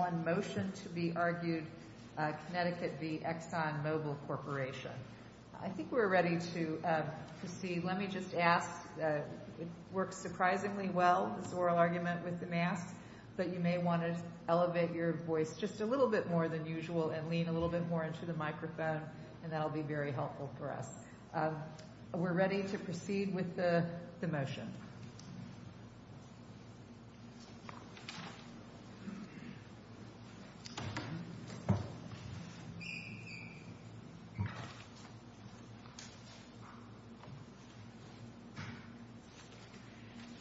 I think we're ready to proceed. Let me just ask, it works surprisingly well, this oral argument with the masks, but you may want to elevate your voice just a little bit more than usual and lean a little bit more into the microphone, and that will be very helpful for us. We're ready to proceed with the motion.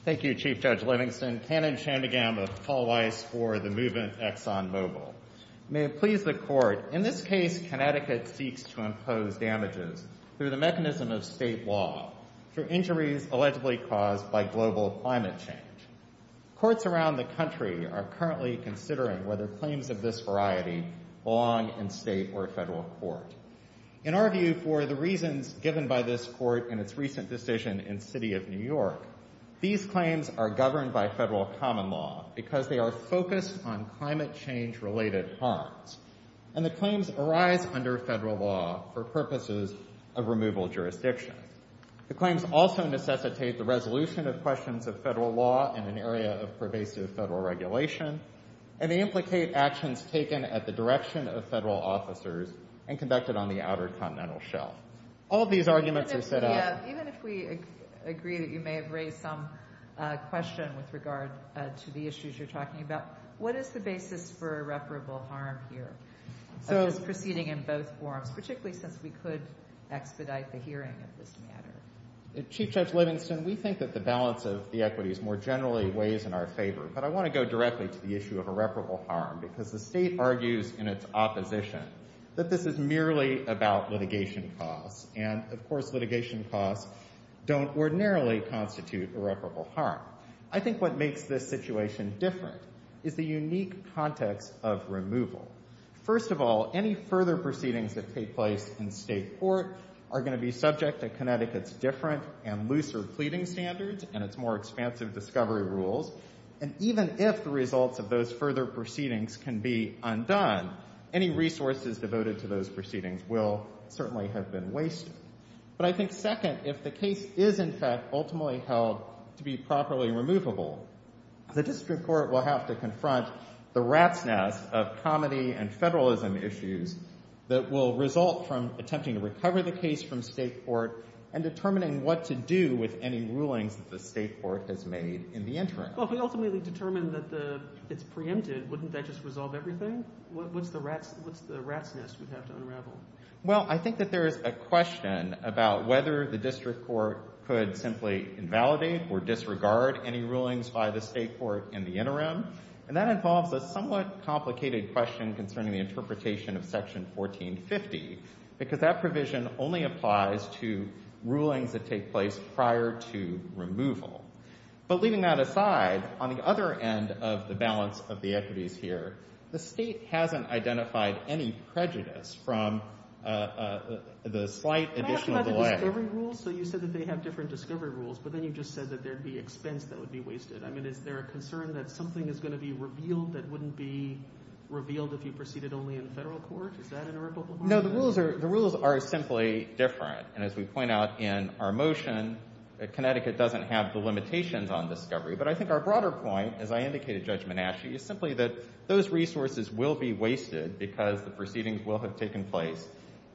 Thank you, Chief Judge Livingston. Cannon Chandigam of Paul Weiss for the movement Exxon Mobile. May it please the Court, in this case, Connecticut seeks to impose damages through the mechanism of state law for injuries allegedly caused by global climate change. Courts around the country are currently considering whether to impose damages through state law. The claims of this variety belong in state or federal court. In our view, for the reasons given by this Court in its recent decision in the City of New York, these claims are governed by federal common law because they are focused on climate change-related harms, and the claims arise under federal law for purposes of removal jurisdiction. The claims also necessitate the resolution of questions of federal law in an area of pervasive federal regulation, and they implicate actions taken at the direction of federal officers and conducted on the outer continental shelf. All of these arguments are set up— Chief Judge Livingston, we think that the balance of the equities more generally weighs in our favor, but I want to go directly to the issue of irreparable harm because the State argues in its opposition that this is merely about litigation costs, and, of course, litigation costs don't ordinarily constitute irreparable harm. I think what makes this situation different is the unique context of removal. First of all, any further proceedings that take place in state court are going to be subject to Connecticut's different and looser pleading standards and its more expansive discovery rules, and even if the results of those further proceedings can be undone, any resources devoted to those proceedings will certainly have been wasted. But I think, second, if the case is, in fact, ultimately held to be properly removable, the district court will have to confront the rat's nest of comedy and federalism issues that will result from attempting to recover the case from state court and determining what to do with any rulings that the state court has made in the interim. Well, if we ultimately determine that it's preempted, wouldn't that just resolve everything? What's the rat's nest we'd have to unravel? Can I ask you about the discovery rules? So you said that they have different discovery rules, but then you just said that there'd be expense that would be wasted. I mean, is there a concern that something is going to be revealed that wouldn't be revealed if you proceeded only in federal court? Is that an irreparable harm? No, the rules are simply different. And as we point out in our motion, Connecticut doesn't have the limitations on discovery. But I think our broader point, as I indicated, Judge Menasche, is simply that those resources will be wasted because the proceedings will have taken place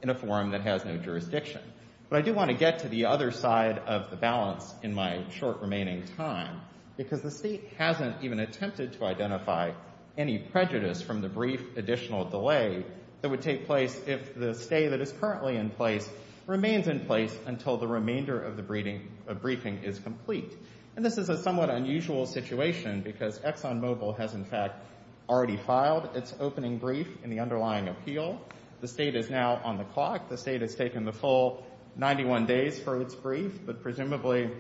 in a forum that has no jurisdiction. But I do want to get to the other side of the balance in my short remaining time, because the state hasn't even attempted to identify any prejudice from the brief additional delay that would take place if the stay that is currently in place remains in place until the remainder of the briefing is complete. And this is a somewhat unusual situation because ExxonMobil has, in fact, already filed its opening brief in the underlying appeal. The state is now on the clock. The state has taken the full 91 days for its brief, but presumably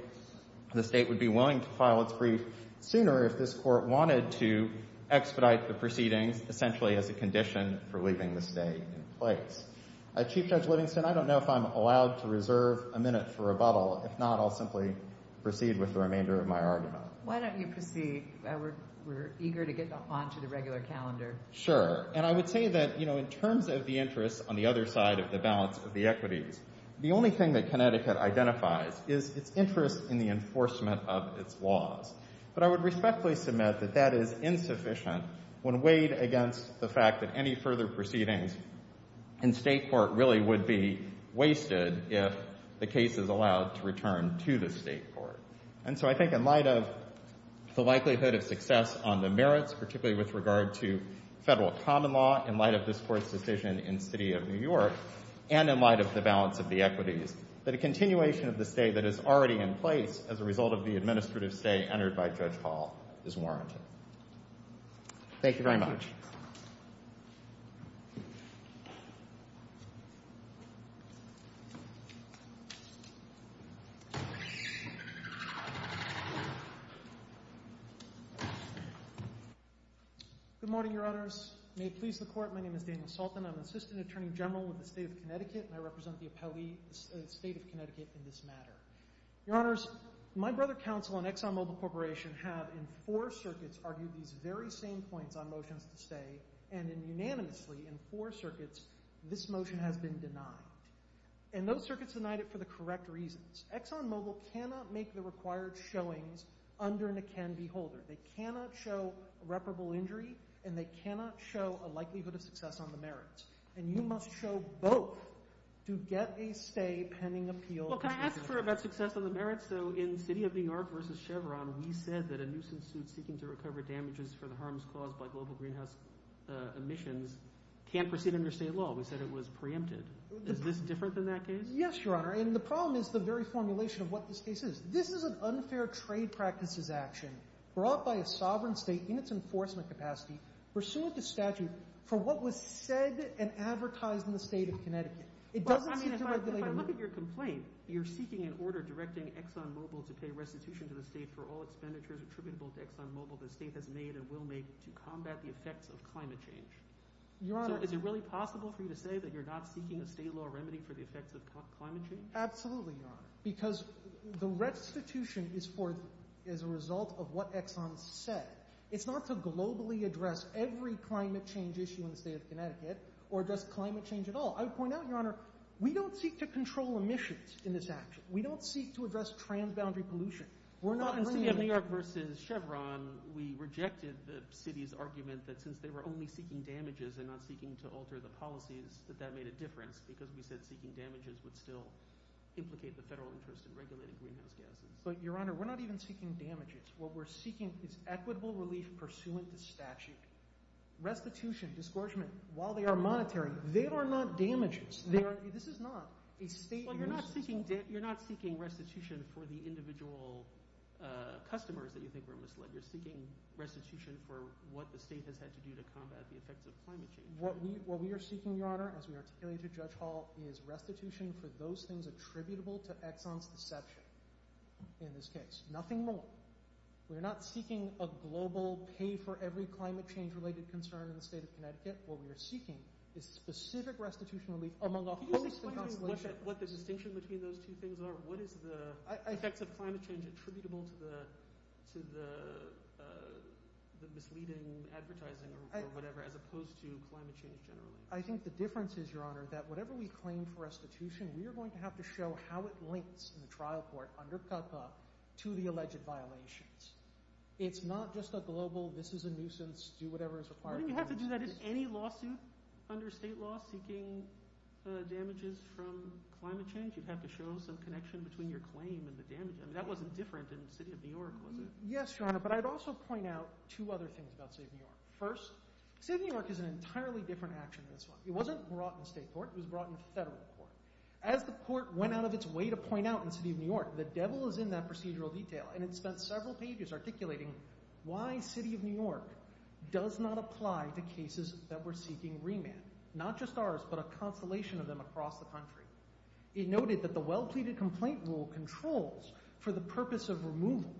the state would be willing to file its brief sooner if this court wanted to expedite the proceedings essentially as a condition for leaving the stay in place. Chief Judge Livingston, I don't know if I'm allowed to reserve a minute for rebuttal. If not, I'll simply proceed with the remainder of my argument. Why don't you proceed? We're eager to get onto the regular calendar. Sure. And I would say that, you know, in terms of the interests on the other side of the balance of the equities, the only thing that Connecticut identifies is its interest in the enforcement of its laws. But I would respectfully submit that that is insufficient when weighed against the fact that any further proceedings in State court really would be wasted if the case is allowed to return to the State court. And so I think in light of the likelihood of success on the merits, particularly with regard to Federal common law, in light of this Court's decision in City of New York, and in light of the balance of the equities, that a continuation of the stay that is already in place as a result of the administrative stay entered by Judge Hall is warranted. Thank you very much. Good morning, Your Honors. May it please the Court, my name is Daniel Sultan. I'm Assistant Attorney General with the State of Connecticut, and I represent the State of Connecticut in this matter. Your Honors, my brother counsel and ExxonMobil Corporation have, in four circuits, argued these very same points on motions to stay, and unanimously, in four circuits, this motion has been denied. And those circuits denied it for the correct reasons. ExxonMobil cannot make the required showings under an akin beholder. They cannot show irreparable injury, and they cannot show a likelihood of success on the merits. And you must show both to get a stay pending appeal. Well, can I ask about success on the merits? So in City of New York v. Chevron, we said that a nuisance suit seeking to recover damages for the harms caused by global greenhouse emissions can't proceed under state law. We said it was preempted. Is this different than that case? Yes, Your Honor, and the problem is the very formulation of what this case is. This is an unfair trade practices action brought by a sovereign state in its enforcement capacity pursuant to statute for what was said and advertised in the State of Connecticut. If I look at your complaint, you're seeking an order directing ExxonMobil to pay restitution to the state for all expenditures attributable to ExxonMobil the state has made and will make to combat the effects of climate change. So is it really possible for you to say that you're not seeking a state law remedy for the effects of climate change? Absolutely, Your Honor, because the restitution is a result of what Exxon said. It's not to globally address every climate change issue in the State of Connecticut or just climate change at all. I would point out, Your Honor, we don't seek to control emissions in this action. We don't seek to address transboundary pollution. In City of New York v. Chevron, we rejected the city's argument that since they were only seeking damages and not seeking to alter the policies that that made a difference because we said seeking damages would still implicate the federal interest in regulating greenhouse gases. But, Your Honor, we're not even seeking damages. What we're seeking is equitable relief pursuant to statute. Restitution, disgorgement, while they are monetary, they are not damages. They are – this is not a state – Well, you're not seeking restitution for the individual customers that you think were misled. You're seeking restitution for what the state has had to do to combat the effects of climate change. What we are seeking, Your Honor, as we articulated to Judge Hall, is restitution for those things attributable to Exxon's deception in this case. Nothing more. We're not seeking a global pay-for-every-climate-change-related concern in the state of Connecticut. What we are seeking is specific restitution relief among a host of constellations. Can you explain to me what the distinction between those two things are? What is the effects of climate change attributable to the misleading advertising or whatever as opposed to climate change generally? I think the difference is, Your Honor, that whatever we claim for restitution, we are going to have to show how it links in the trial court under CUPPA to the alleged violations. It's not just a global, this is a nuisance, do whatever is required. You don't have to do that in any lawsuit under state law seeking damages from climate change. You'd have to show some connection between your claim and the damage. That wasn't different in the city of New York, was it? Yes, Your Honor, but I'd also point out two other things about the city of New York. First, the city of New York is an entirely different action in this one. It wasn't brought in state court, it was brought in federal court. As the court went out of its way to point out in the city of New York, the devil is in that procedural detail. And it spent several pages articulating why the city of New York does not apply to cases that we're seeking remand. Not just ours, but a constellation of them across the country. It noted that the well-pleaded complaint rule controls for the purpose of removal,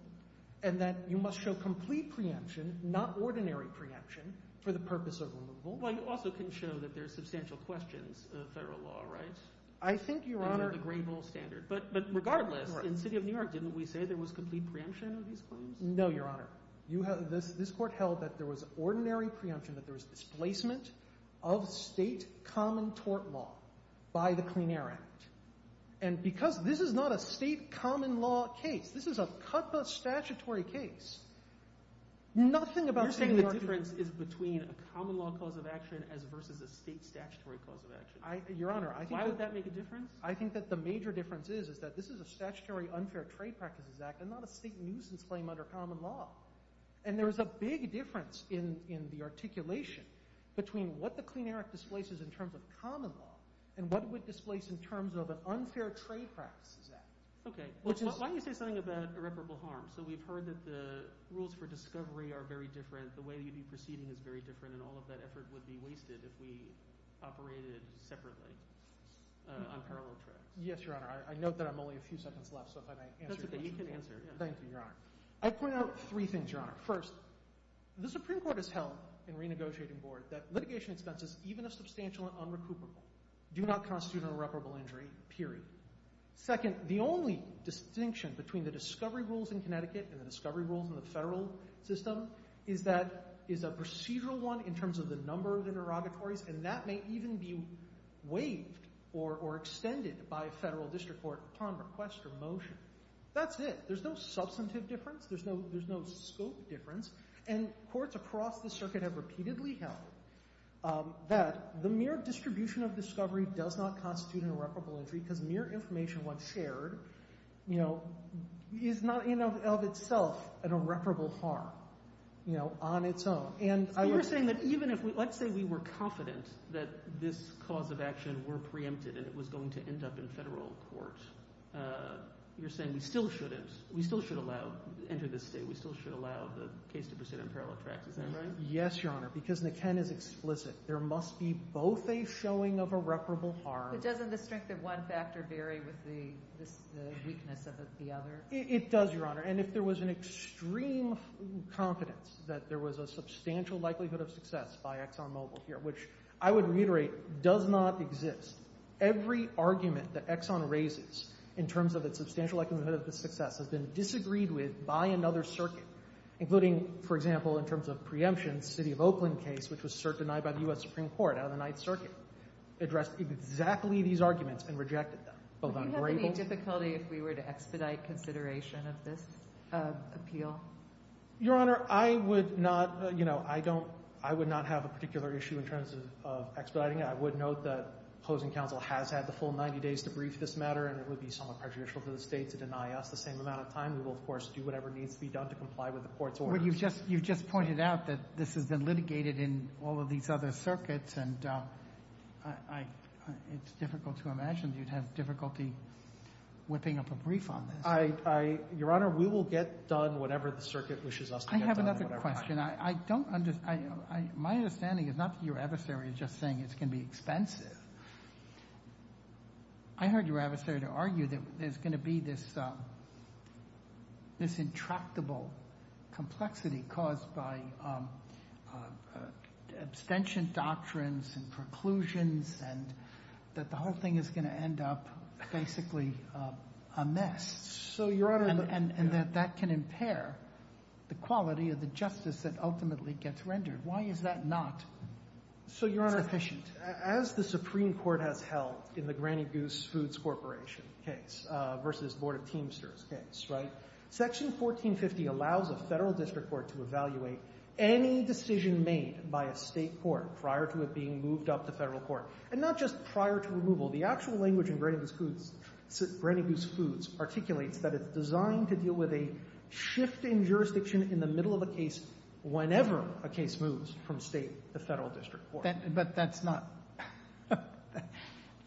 and that you must show complete preemption, not ordinary preemption, for the purpose of removal. Well, you also can show that there's substantial questions of federal law, right? I think, Your Honor— Under the Graybull standard. But regardless, in the city of New York, didn't we say there was complete preemption of these claims? No, Your Honor. Your Honor, this court held that there was ordinary preemption, that there was displacement of state common tort law by the Clean Air Act. And because this is not a state common law case, this is a CUTPA statutory case, nothing about the city of New York— You're saying the difference is between a common law cause of action versus a state statutory cause of action. Your Honor, I think— Why would that make a difference? I think that the major difference is that this is a statutory unfair trade practices act and not a state nuisance claim under common law. And there is a big difference in the articulation between what the Clean Air Act displaces in terms of common law and what it would displace in terms of an unfair trade practices act. Okay. Why don't you say something about irreparable harm? So we've heard that the rules for discovery are very different, the way that you'd be proceeding is very different, and all of that effort would be wasted if we operated separately on parallel tracks. Yes, Your Honor. I note that I'm only a few seconds left, so if I might answer your question. Okay, you can answer. Thank you, Your Honor. I'd point out three things, Your Honor. First, the Supreme Court has held in renegotiating board that litigation expenses, even if substantial and unrecoupable, do not constitute an irreparable injury, period. Second, the only distinction between the discovery rules in Connecticut and the discovery rules in the federal system is that it's a procedural one in terms of the number of interrogatories, and that may even be waived or extended by a federal district court upon request or motion. That's it. There's no substantive difference. There's no scope difference. And courts across the circuit have repeatedly held that the mere distribution of discovery does not constitute an irreparable injury because mere information once shared, you know, is not in and of itself an irreparable harm, you know, on its own. So you're saying that even if we – let's say we were confident that this cause of action were preempted and it was going to end up in federal court, you're saying we still shouldn't – we still should allow – enter this state, we still should allow the case to proceed on parallel tracks. Is that right? Yes, Your Honor, because the Ken is explicit. There must be both a showing of irreparable harm. But doesn't the strength of one factor vary with the weakness of the other? It does, Your Honor. And if there was an extreme confidence that there was a substantial likelihood of success by ExxonMobil here, which I would reiterate does not exist, every argument that Exxon raises in terms of its substantial likelihood of success has been disagreed with by another circuit, including, for example, in terms of preemption, the City of Oakland case, which was denied by the U.S. Supreme Court out of the Ninth Circuit, addressed exactly these arguments and rejected them. Would you have any difficulty if we were to expedite consideration of this appeal? Your Honor, I would not – you know, I don't – I would not have a particular issue in terms of expediting it. I would note that opposing counsel has had the full 90 days to brief this matter and it would be somewhat prejudicial for the State to deny us the same amount of time. We will, of course, do whatever needs to be done to comply with the court's orders. But you've just – you've just pointed out that this has been litigated in all of these other circuits and I – it's difficult to imagine you'd have difficulty whipping up a brief on this. Your Honor, we will get done whatever the circuit wishes us to get done. I have another question. I don't – my understanding is not that your adversary is just saying it's going to be expensive. I heard your adversary argue that there's going to be this intractable complexity caused by abstention doctrines and preclusions and that the whole thing is going to end up basically a mess. So, Your Honor – And that that can impair the quality of the justice that ultimately gets rendered. Why is that not sufficient? So, Your Honor, as the Supreme Court has held in the Granny Goose Foods Corporation case versus the Board of Teamsters case, right, Section 1450 allows a federal district court to evaluate any decision made by a state court prior to it being moved up to federal court. And not just prior to removal. The actual language in Granny Goose Foods articulates that it's designed to deal with a shift in jurisdiction in the middle of a case whenever a case moves from state to federal district court. But that's not –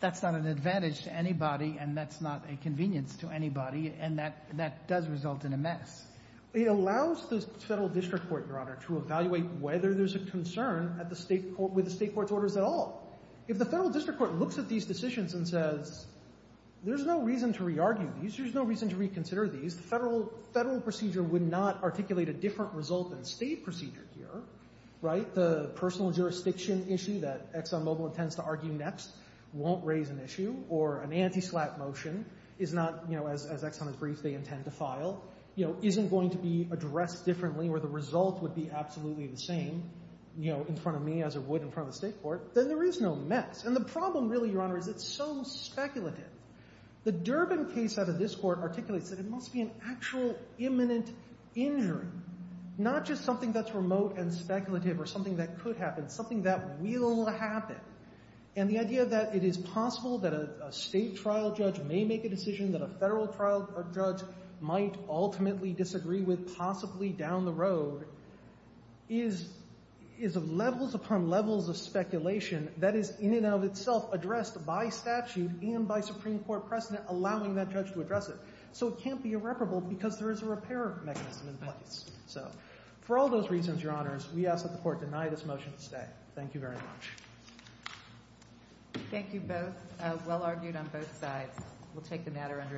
that's not an advantage to anybody and that's not a convenience to anybody and that does result in a mess. It allows the federal district court, Your Honor, to evaluate whether there's a concern at the state – with the state court's orders at all. If the federal district court looks at these decisions and says, there's no reason to re-argue these, there's no reason to reconsider these, the federal procedure would not articulate a different result than state procedure here, right? The personal jurisdiction issue that Exxon Mobil intends to argue next won't raise an issue or an anti-slap motion is not, you know, as Exxon agrees they intend to file, you know, isn't going to be addressed differently or the result would be absolutely the same, you know, in front of me as it would in front of the state court, then there is no mess. And the problem really, Your Honor, is it's so speculative. The Durbin case out of this court articulates that it must be an actual imminent injury, not just something that's remote and speculative or something that could happen, something that will happen. And the idea that it is possible that a state trial judge may make a decision that a federal trial judge might ultimately disagree with possibly down the road is – is levels upon levels of speculation that is in and of itself addressed by statute and by Supreme Court precedent allowing that judge to address it. So it can't be irreparable because there is a repair mechanism in place. So for all those reasons, Your Honors, we ask that the Court deny this motion to stay. Thank you very much. Thank you both. Well argued on both sides. We'll take the matter under advisement.